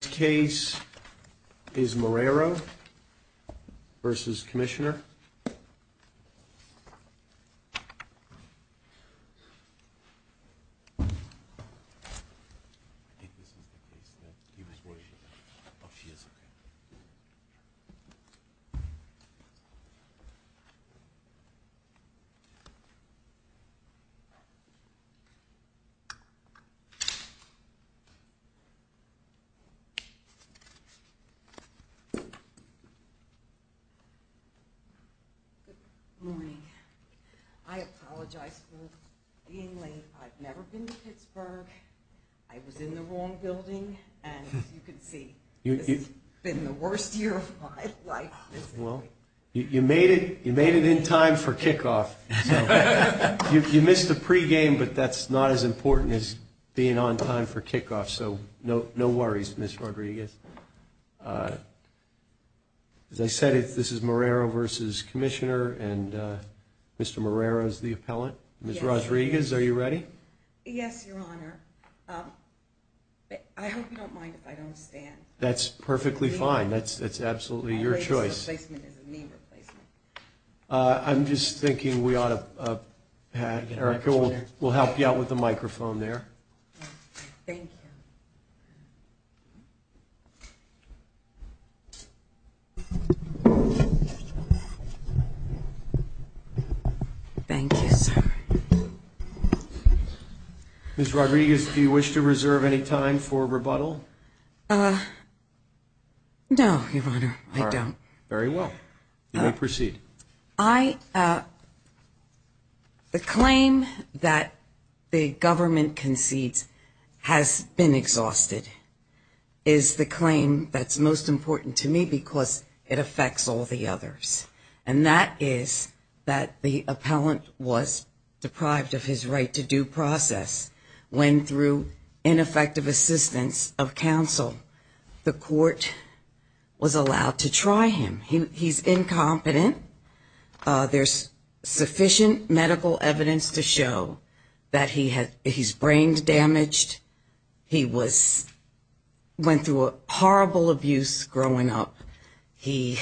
Case is Marrero versus Commissioner Good morning. I apologize for being late. I've never been to Pittsburgh. I was in the wrong building, and as you can see, this has been the worst year of my life. Well, you made it in time for kickoff. You missed the pregame, but that's not as important as being on time for kickoff, so no worries, Ms. Rodriguez. As I said, this is Marrero versus Commissioner, and Mr. Marrero is the appellant. Ms. Rodriguez, are you ready? Yes, Your Honor. I hope you don't mind if I don't stand. That's perfectly fine. That's absolutely your choice. I'm just thinking we ought to have Erica, we'll help you out with the microphone there. Thank you. Thank you, sir. Ms. Rodriguez, do you wish to reserve any time for rebuttal? No, Your Honor, I don't. Very well. You may proceed. The claim that the government concedes has been exhausted is the claim that's most important to me because it affects all the others, and that is that the appellant was deprived of his right to due process when, through ineffective assistance of counsel, the court was allowed to try him. He's incompetent. There's sufficient medical evidence to show that he's brain damaged. He went through horrible abuse growing up. He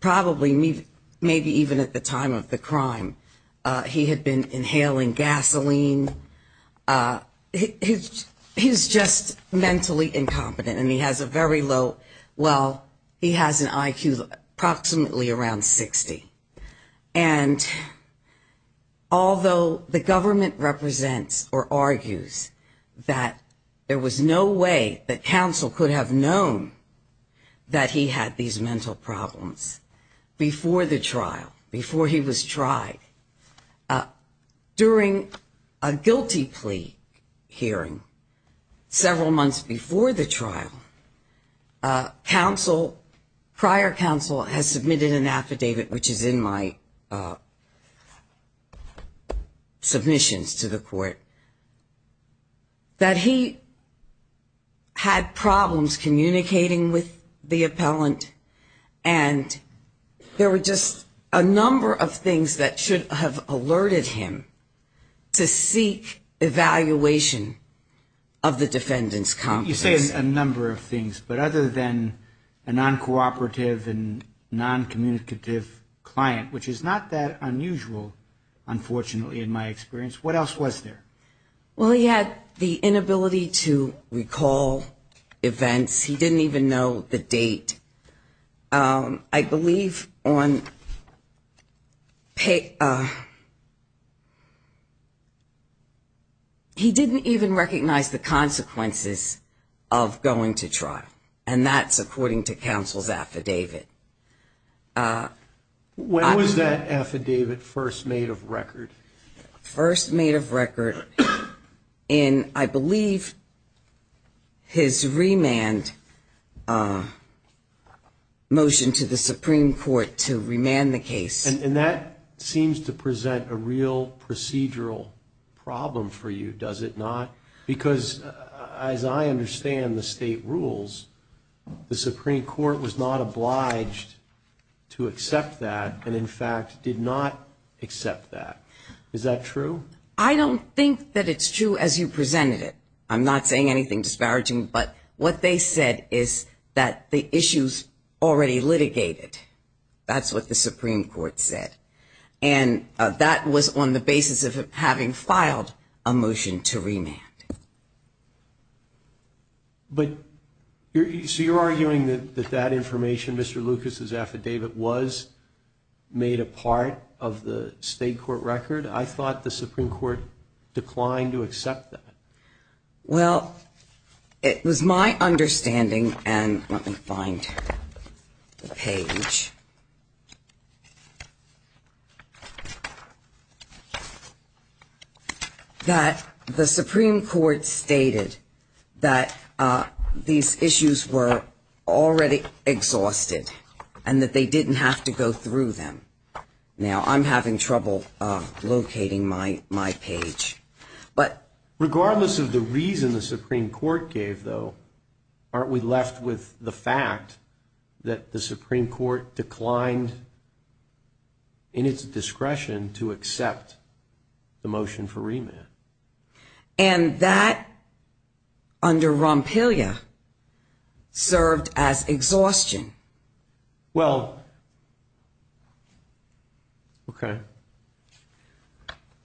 probably, maybe even at the time of the crime, he had been inhaling gasoline. He's just mentally incompetent, and he has a very low, well, he has an IQ approximately around 60. And although the government represents or argues that there was no way that counsel could have known that he had these mental problems before the trial, before he was tried, during a guilty plea hearing several months before the trial, prior counsel has submitted an affidavit, which is in my submissions to the court, that he had problems communicating with the appellant, and there were just a number of things that should have alerted him to seek evaluation of the defendant's competence. You say a number of things, but other than a non-cooperative and non-communicative client, which is not that unusual, unfortunately, in my experience, what else was there? Well, he had the inability to recall events. He didn't even know the date. And I believe on, he didn't even recognize the consequences of going to trial, and that's according to counsel's affidavit. When was that affidavit first made of record? First made of record in, I believe, his remand motion to the Supreme Court to remand the case. And that seems to present a real procedural problem for you, does it not? Because as I understand the state rules, the Supreme Court was not obliged to accept that, and in fact did not accept that. Is that true? I don't think that it's true as you presented it. I'm not saying anything disparaging, but what they said is that the issue's already litigated. That's what the Supreme Court said. And that was on the basis of having filed a motion to remand. But, so you're arguing that that information, Mr. Lucas's affidavit, was made a part of the state court record? I thought the Supreme Court declined to accept that. Well, it was my understanding, and let me find the page. That the Supreme Court stated that these issues were already exhausted, and that they didn't have to go through them. Now, I'm having trouble locating my page. Regardless of the reason the Supreme Court gave, though, aren't we left with the fact that the Supreme Court declined, in its discretion, to accept the motion for remand? And that, under Rompelia, served as exhaustion. Well, okay.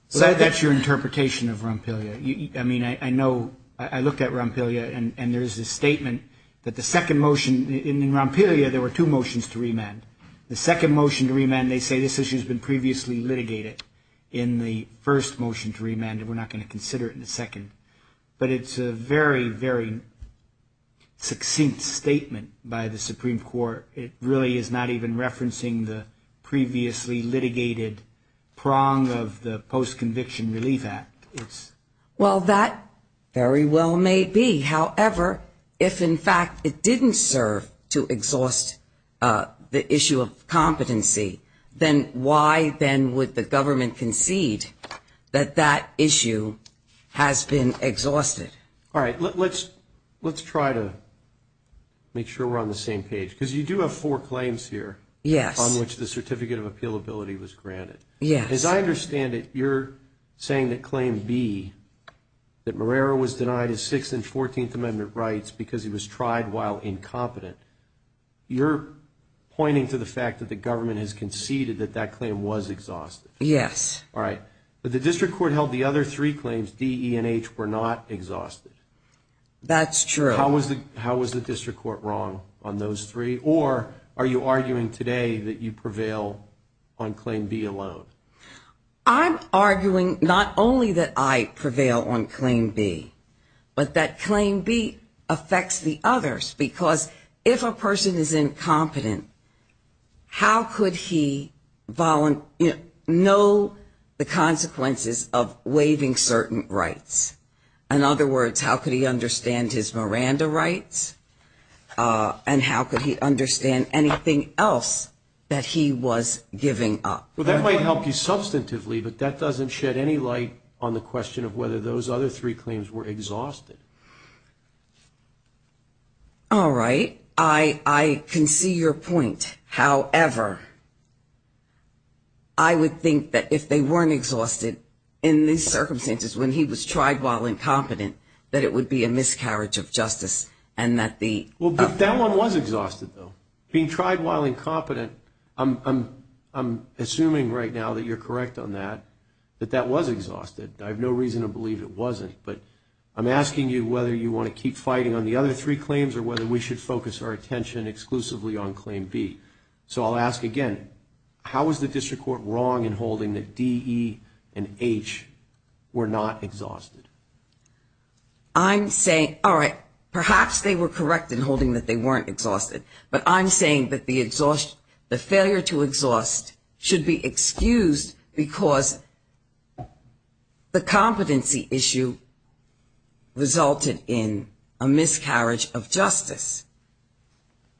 So that's your interpretation of Rompelia. I mean, I know, I looked at Rompelia, and there's a statement that the second motion, in Rompelia, there were two motions to remand. The second motion to remand, they say this issue's been previously litigated in the first motion to remand, and we're not going to consider it in the second. But it's a very, very succinct statement by the Supreme Court. It really is not even referencing the previously litigated prong of the Post-Conviction Relief Act. Well, that very well may be. However, if, in fact, it didn't serve to exhaust the issue of competency, then why, then, would the government concede that that issue has been exhausted? All right, let's try to make sure we're on the same page, because you do have four claims here. Yes. On which the Certificate of Appealability was granted. Yes. As I understand it, you're saying that Claim B, that Marrero was denied his Sixth and Fourteenth Amendment rights because he was tried while incompetent. You're pointing to the fact that the government has conceded that that claim was exhausted. Yes. All right. But the District Court held the other three claims, D, E, and H, were not exhausted. That's true. How was the District Court wrong on those three? Or are you arguing today that you prevail on Claim B alone? I'm arguing not only that I prevail on Claim B, but that Claim B affects the others, because if a person is incompetent, how could he know the consequences of waiving certain rights? In other words, how could he understand his Miranda rights? And how could he understand anything else that he was giving up? Well, that might help you substantively, but that doesn't shed any light on the question of whether those other three claims were exhausted. All right. I can see your point. However, I would think that if they weren't exhausted in these circumstances, when he was tried while incompetent, that it would be a miscarriage of justice, and that the... Well, but that one was exhausted, though. Being tried while incompetent, I'm assuming right now that you're correct on that, that that was exhausted. I have no reason to believe it wasn't. But I'm asking you whether you want to keep fighting on the other three claims or whether we should focus our attention exclusively on Claim B. So I'll ask again. How was the District Court wrong in holding that D, E, and H were not exhausted? I'm saying, all right, perhaps they were correct in holding that they weren't exhausted. But I'm saying that the failure to exhaust should be excused because the competency issue resulted in a miscarriage of justice.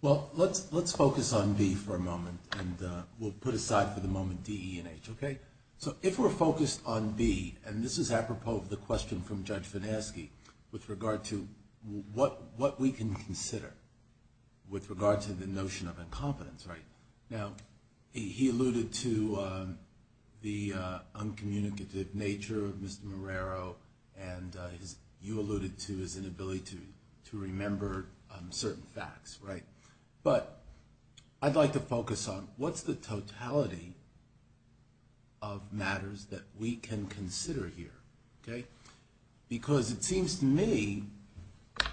Well, let's focus on B for a moment, and we'll put aside for the moment D, E, and H. Okay? So if we're focused on B, and this is apropos of the question from Judge Finasci with regard to what we can consider with regard to the notion of incompetence, right? Now, he alluded to the uncommunicative nature of Mr. Marrero, and you alluded to his inability to remember certain facts, right? But I'd like to focus on what's the totality of matters that we can consider here, okay? Because it seems to me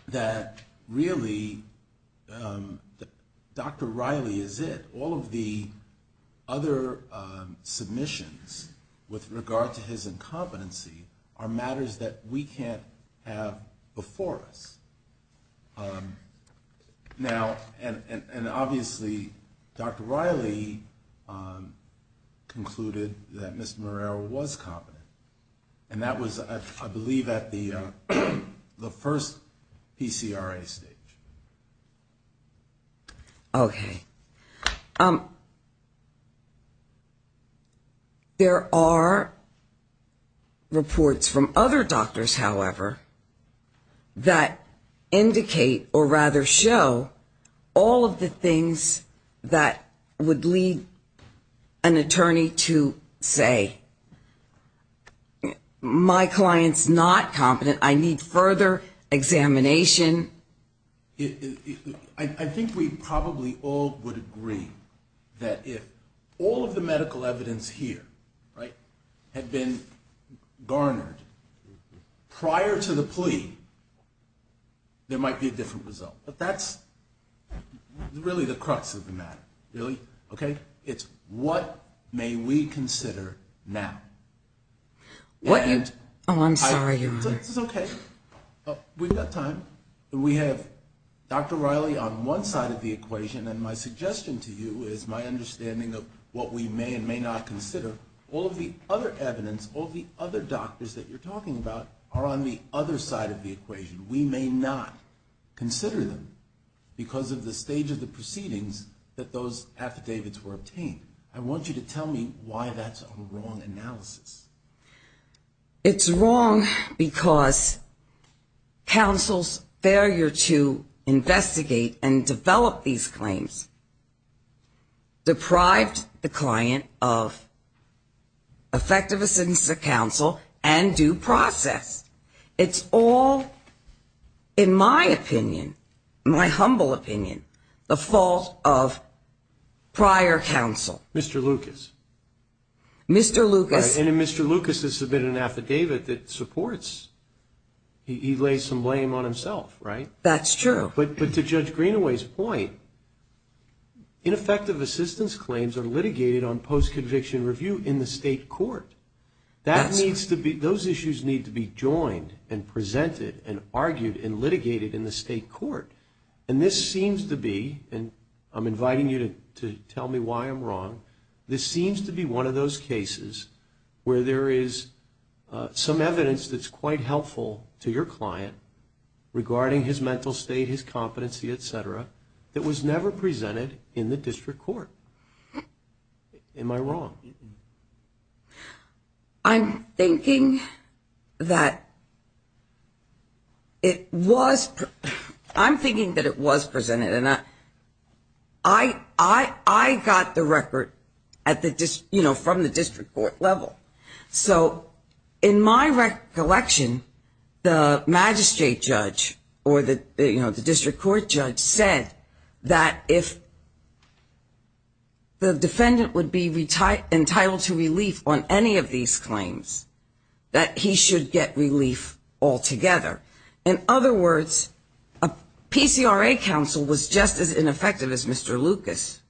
that really Dr. Riley is it. All of the other submissions with regard to his incompetency are matters that we can't have before us. Now, and obviously Dr. Riley concluded that Mr. Marrero was competent, and that was, I believe, at the first PCRA stage. Okay. There are reports from other doctors, however, that indicate or rather show all of the things that would lead an attorney to say, my client's not competent, I need further examination. I think we probably all would agree that if all of the medical evidence here, right, had been garnered prior to the plea, there might be a different result. But that's really the crux of the matter, really, okay? It's what may we consider now? Oh, I'm sorry, Your Honor. It's okay. We've got time. We have Dr. Riley on one side of the equation, and my suggestion to you is my understanding of what we may and may not consider. All of the other evidence, all of the other doctors that you're talking about are on the other side of the equation. We may not consider them because of the stage of the proceedings that those affidavits were obtained. I want you to tell me why that's a wrong analysis. It's wrong because counsel's failure to investigate and develop these claims deprived the client of effective assistance to counsel and due process. It's all, in my opinion, my humble opinion, the fault of prior counsel. Mr. Lucas. Mr. Lucas. And if Mr. Lucas has submitted an affidavit that supports, he lays some blame on himself, right? That's true. But to Judge Greenaway's point, ineffective assistance claims are litigated on post-conviction review in the state court. That needs to be, those issues need to be joined and presented and argued and litigated in the state court. And this seems to be, and I'm inviting you to tell me why I'm wrong, this seems to be one of those cases where there is some evidence that's quite helpful to your client regarding his mental state, his competency, et cetera, that was never presented in the district court. Am I wrong? I'm thinking that it was, I'm thinking that it was presented and I got the record at the, you know, from the district court level. So in my recollection, the magistrate judge or the, you know, the district court judge said that if the defendant would be entitled to relief on any of these claims, that he should get relief altogether. In other words, a PCRA counsel was just as ineffective as Mr. Lucas.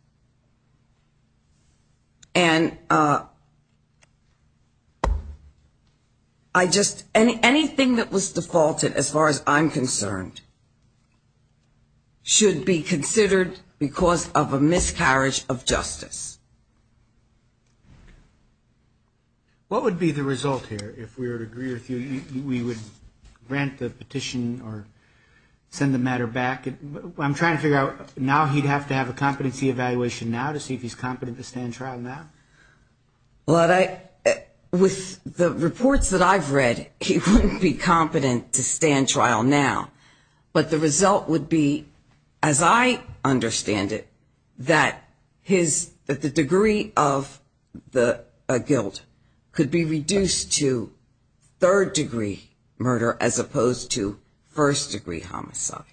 And I just, anything that was defaulted as far as I'm concerned should be considered because of a miscarriage of justice. What would be the result here if we were to agree with you, we would grant the petition or send the matter back? I'm trying to figure out, now he'd have to have a competency review or a competency evaluation now to see if he's competent to stand trial now. Well, I, with the reports that I've read, he wouldn't be competent to stand trial now, but the result would be, as I understand it, that his, that the degree of the guilt could be reduced to third degree murder as opposed to first degree homicide.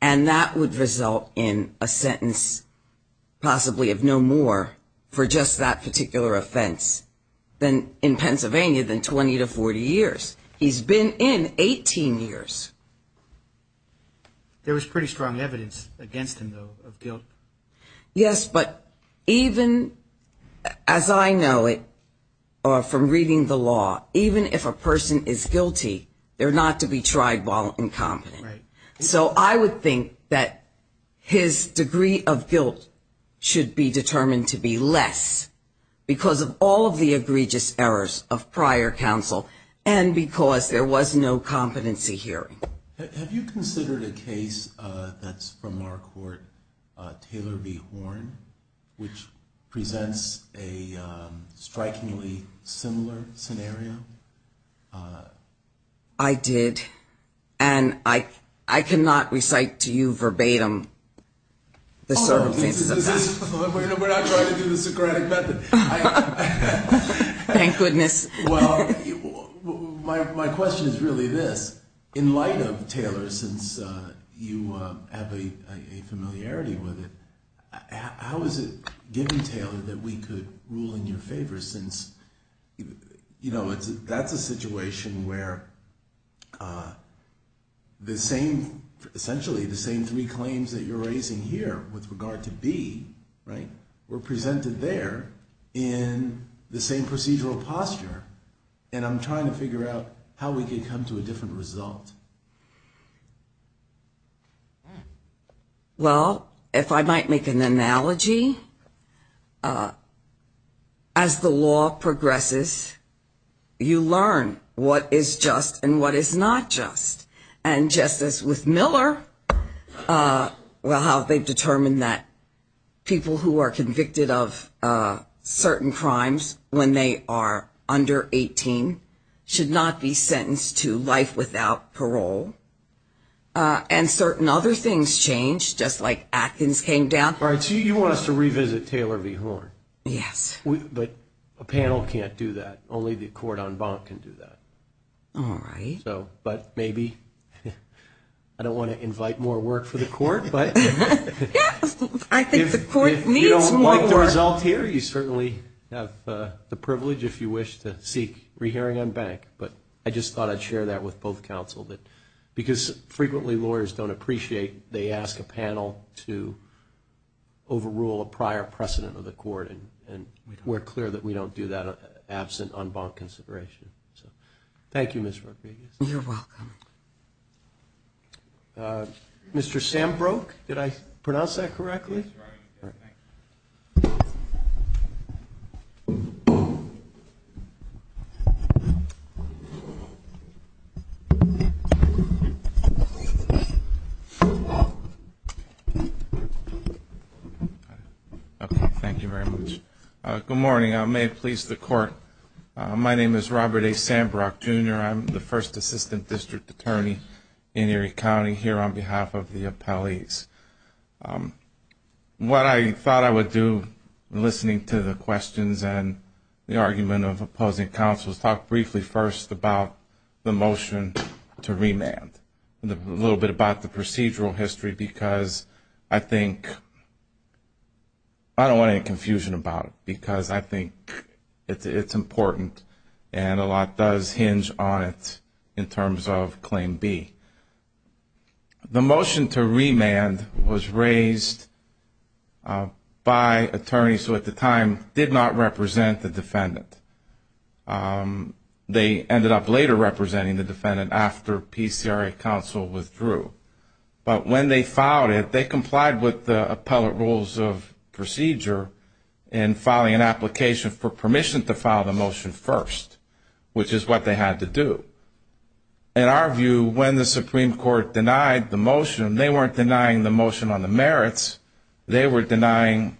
And that would result in a sentence possibly of no more for just that particular offense in Pennsylvania than 20 to 40 years. He's been in 18 years. There was pretty strong evidence against him, though, of guilt. Yes, but even as I know it from reading the law, even if a person is guilty, they're not to be tried while incompetent. Right. So I would think that his degree of guilt should be determined to be less because of all of the egregious errors of prior counsel and because there was no competency hearing. Have you considered a case that's from our court, Taylor v. Horn, which presents a strikingly similar scenario? I did. And I cannot recite to you verbatim the circumstances of that. We're not trying to do the Socratic method. Thank goodness. Well, my question is really this. In light of Taylor, since you have a familiarity with it, how is it, given Taylor, that we could rule in your favor since, you know, that's a situation where the same, essentially, the same three claims that you're raising here with regard to B, right, were presented there in the same procedural posture. And I'm trying to figure out how we could come to a different result. Well, if I might make an analogy, as the law progresses, you learn what is just and what is not just. And just as with Miller, well, how they've determined that people who are convicted of certain crimes when they are under 18 should not be paroled, and certain other things change, just like Atkins came down. All right. So you want us to revisit Taylor v. Horn. Yes. But a panel can't do that. Only the court en banc can do that. All right. So but maybe I don't want to invite more work for the court, but. Yes. I think the court needs more work. If you don't like the result here, you certainly have the privilege, if you wish, to seek re-hearing en banc. But I just thought I'd share that with both counsel, that because frequently lawyers don't appreciate, they ask a panel to overrule a prior precedent of the court. And we're clear that we don't do that absent en banc consideration. So thank you, Ms. Rodriguez. You're welcome. Mr. Sambroke, did I pronounce that correctly? Yes, you are. Thank you. Okay. Thank you very much. Good morning. May it please the court, my name is Robert A. Sambroke, Jr. I'm the first assistant district attorney in Erie County, here on behalf of the appellees. What I thought I would do, listening to the questions and the argument of opposing counsels, talk briefly first about the motion to remand. A little bit about the procedural history, because I think, I don't want any confusion about it, because I think it's important, and a lot does hinge on it in terms of Claim B. The motion to remand was raised by attorneys who at the time did not represent the defendant. They ended up later representing the defendant after PCRA counsel withdrew. But when they filed it, they complied with the appellate rules of procedure in filing an application for permission to file the motion first, which is what they had to do. In our view, when the Supreme Court denied the motion, they weren't denying the motion on the merits, they were denying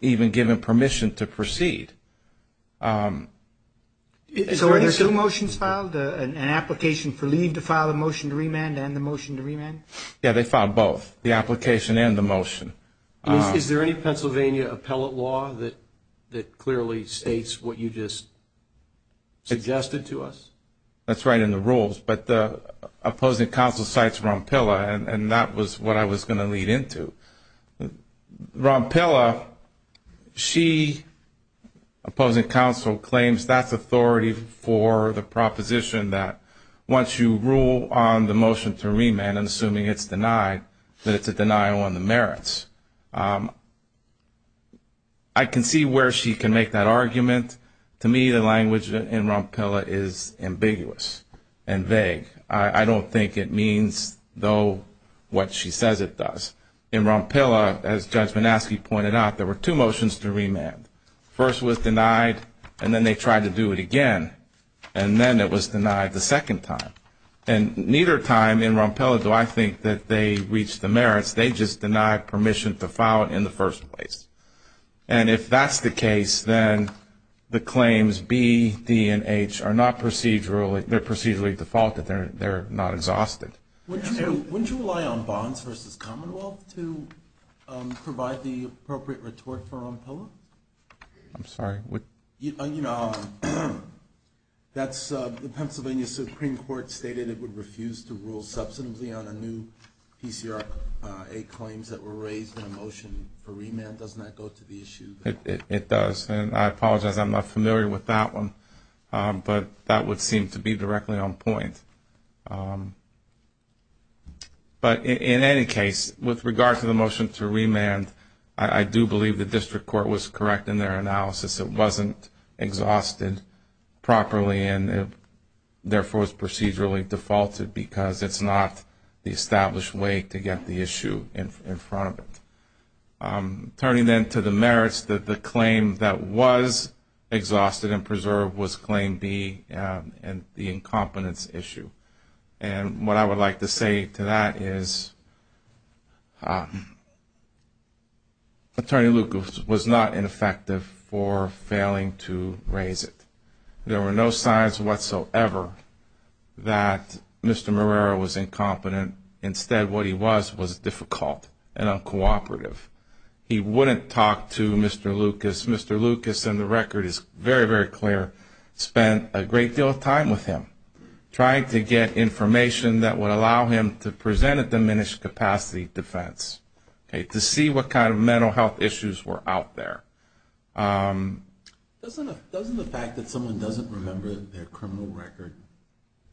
even given permission to proceed. So were there two motions filed? An application for leave to file a motion to remand and the motion to remand? Yeah, they filed both, the application and the motion. Is there any Pennsylvania appellate law that clearly states what you just suggested to us? That's right in the rules, but the opposing counsel cites Rompilla, and that was what I was going to lead into. Rompilla, she, opposing counsel, claims that's authority for the proposition that once you rule on the motion to remand and assuming it's denied, that it's a denial on the merits. I can see where she can make that argument. To me, the language in Rompilla is ambiguous and vague. I don't think it means, though, what she says it does. In Rompilla, as Judge Manaski pointed out, there were two motions to remand. First was denied, and then they tried to do it again, and then it was denied the second time. And neither time in Rompilla do I think that they reached the merits, they just denied permission to file it in the first place. And if that's the case, then the claims B, D, and H are not procedurally... they're procedurally defaulted, they're not exhausted. Wouldn't you rely on Bonds v. Commonwealth to provide the appropriate retort for Rompilla? I'm sorry, what? You know, that's... the Pennsylvania Supreme Court stated it would refuse to rule substantively on a new PCR-A claims that were raised in a motion for remand. Doesn't that go to the issue? It does, and I apologize, I'm not familiar with that one, but that would seem to be directly on point. But in any case, with regard to the motion to remand, I do believe the district court was correct in their analysis. It wasn't exhausted properly, and therefore it was procedurally defaulted because it's not the established way to get the issue in front of it. Turning then to the merits, the claim that was exhausted and preserved was claim B and the incompetence issue. And what I would like to say to that is... Attorney Lucas was not ineffective for failing to raise it. There were no signs whatsoever that Mr. Marrero was incompetent. Instead, what he was was difficult and uncooperative. He wouldn't talk to Mr. Lucas. Mr. Lucas, and the record is very, very clear, spent a great deal of time with him, trying to get information that would allow him to present a diminished capacity defense, to see what kind of mental health issues were out there. Doesn't the fact that someone doesn't remember their criminal record,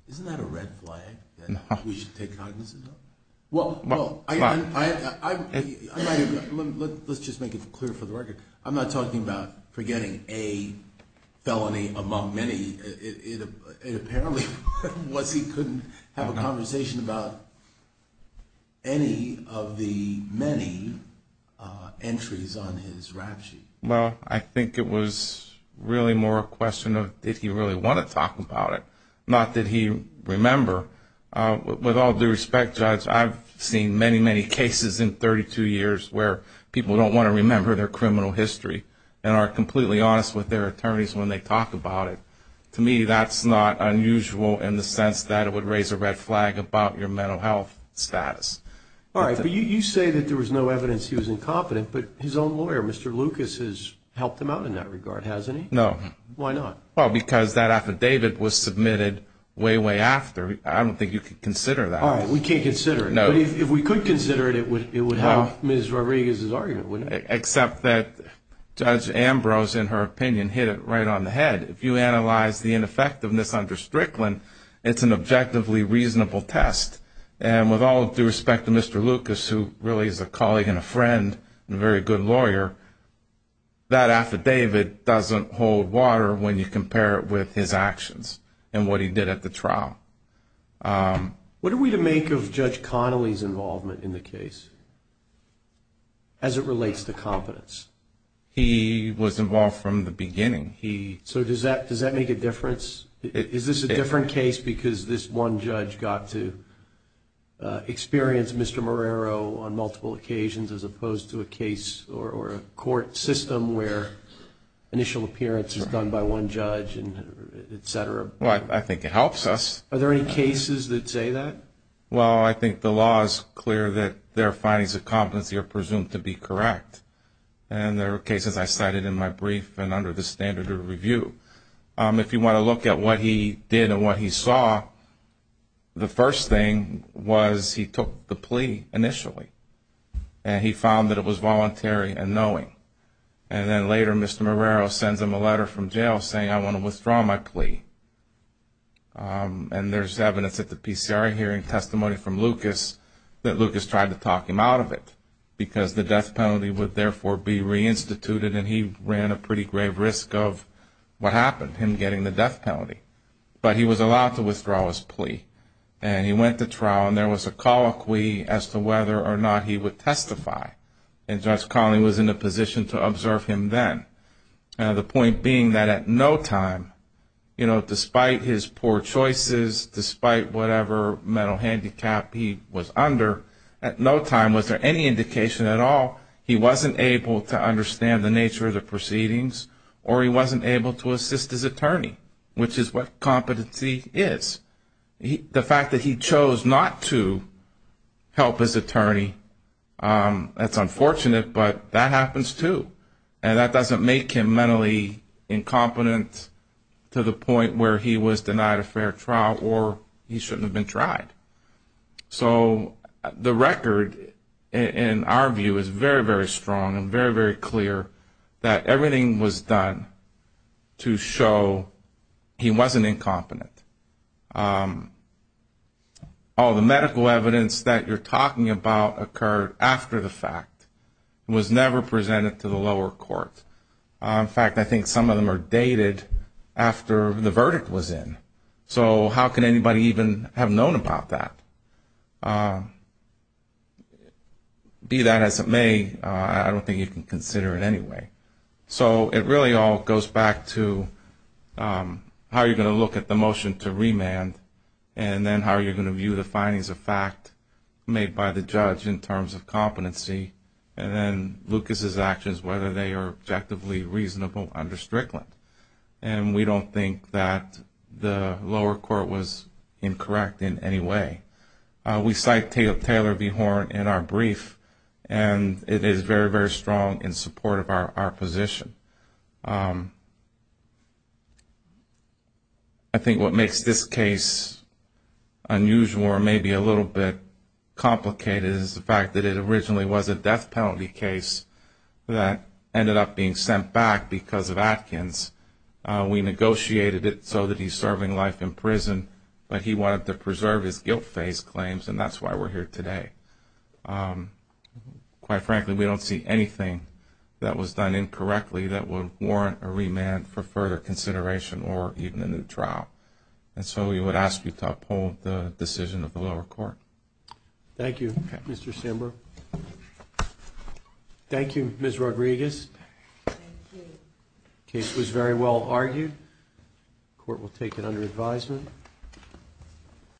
isn't that a red flag that we should take cognizance of? Well, I... Let's just make it clear for the record. I'm not talking about forgetting a felony among many. It apparently was he couldn't have a conversation about any of the many entries on his rap sheet. Well, I think it was really more a question of did he really want to talk about it, not did he remember. With all due respect, Judge, I've seen many, many cases in 32 years where people don't want to remember their criminal history and are completely honest with their attorneys when they talk about it. To me, that's not unusual in the sense that it would raise a red flag about your mental health status. All right, but you say that there was no evidence he was incompetent, but his own lawyer, Mr. Lucas, has helped him out in that regard, hasn't he? No. Why not? Well, because that affidavit was submitted way, way after. I don't think you could consider that. All right, we can't consider it. But if we could consider it, it would help Ms. Rodriguez's argument, wouldn't it? Except that Judge Ambrose, in her opinion, hit it right on the head. If you analyze the ineffectiveness under Strickland, it's an objectively reasonable test. And with all due respect to Mr. Lucas, who really is a colleague and a friend and a very good lawyer, that affidavit doesn't hold water when you compare it with his actions and what he did at the trial. What are we to make of Judge Connolly's involvement in the case as it relates to competence? He was involved from the beginning. So does that make a difference? Is this a different case because this one judge got to experience Mr. Marrero on multiple occasions as opposed to a case or a court system where initial appearance is done by one judge, etc.? Well, I think it helps us. Are there any cases that say that? Well, I think the law is clear that their findings of competency are presumed to be correct. And there are cases I cited in my brief and under the standard of review. If you want to look at what he did and what he saw, the first thing was he took the plea initially. And he found that it was voluntary and knowing. And then later Mr. Marrero sends him a letter from jail saying, I want to withdraw my plea. And there's evidence at the PCR hearing, testimony from Lucas, that Lucas tried to talk him out of it because the death penalty would therefore be reinstituted and he ran a pretty grave risk of what happened, him getting the death penalty. But he was allowed to withdraw his plea. And he went to trial and there was a colloquy as to whether or not he would testify. And Judge Colley was in a position to observe him then. The point being that at no time, you know, despite his poor choices, despite whatever mental handicap he was under, at no time was there any indication at all he wasn't able to understand the nature of the proceedings or he wasn't able to assist his attorney, which is what competency is. The fact that he chose not to help his attorney that's unfortunate, but that happens too. And that doesn't make him mentally incompetent to the point where he was denied a fair trial or he shouldn't have been tried. So the record, in our view, is very, very strong and very, very clear that everything was done to show he wasn't incompetent. All the medical evidence that you're talking about occurred after the fact. It was never presented to the lower court. In fact, I think some of them are dated after the verdict was in. So how can anybody even have known about that? Be that as it may, I don't think you can consider it anyway. So it really all goes back to how you're going to look at the motion to remand and then how you're going to view the findings of fact made by the judge in terms of competency and then Lucas's actions, whether they are objectively reasonable under Strickland. And we don't think that the lower court was incorrect in any way. We cite Taylor V. Horn in our brief and it is very, very strong in support of our position. I think what makes this case unusual or maybe a little bit complicated is the fact that it originally was a death penalty case that ended up being sent back because of Atkins. We negotiated it so that he's serving life in prison but he wanted to preserve his guilt phase claims and that's why we're here today. Quite frankly, we don't see anything that was done incorrectly that would warrant a remand for further consideration or even a new trial. And so we would ask you to uphold the decision of the lower court. Thank you, Mr. Samberg. Thank you, Ms. Rodriguez. The case was very well argued. The court will take it under advisement.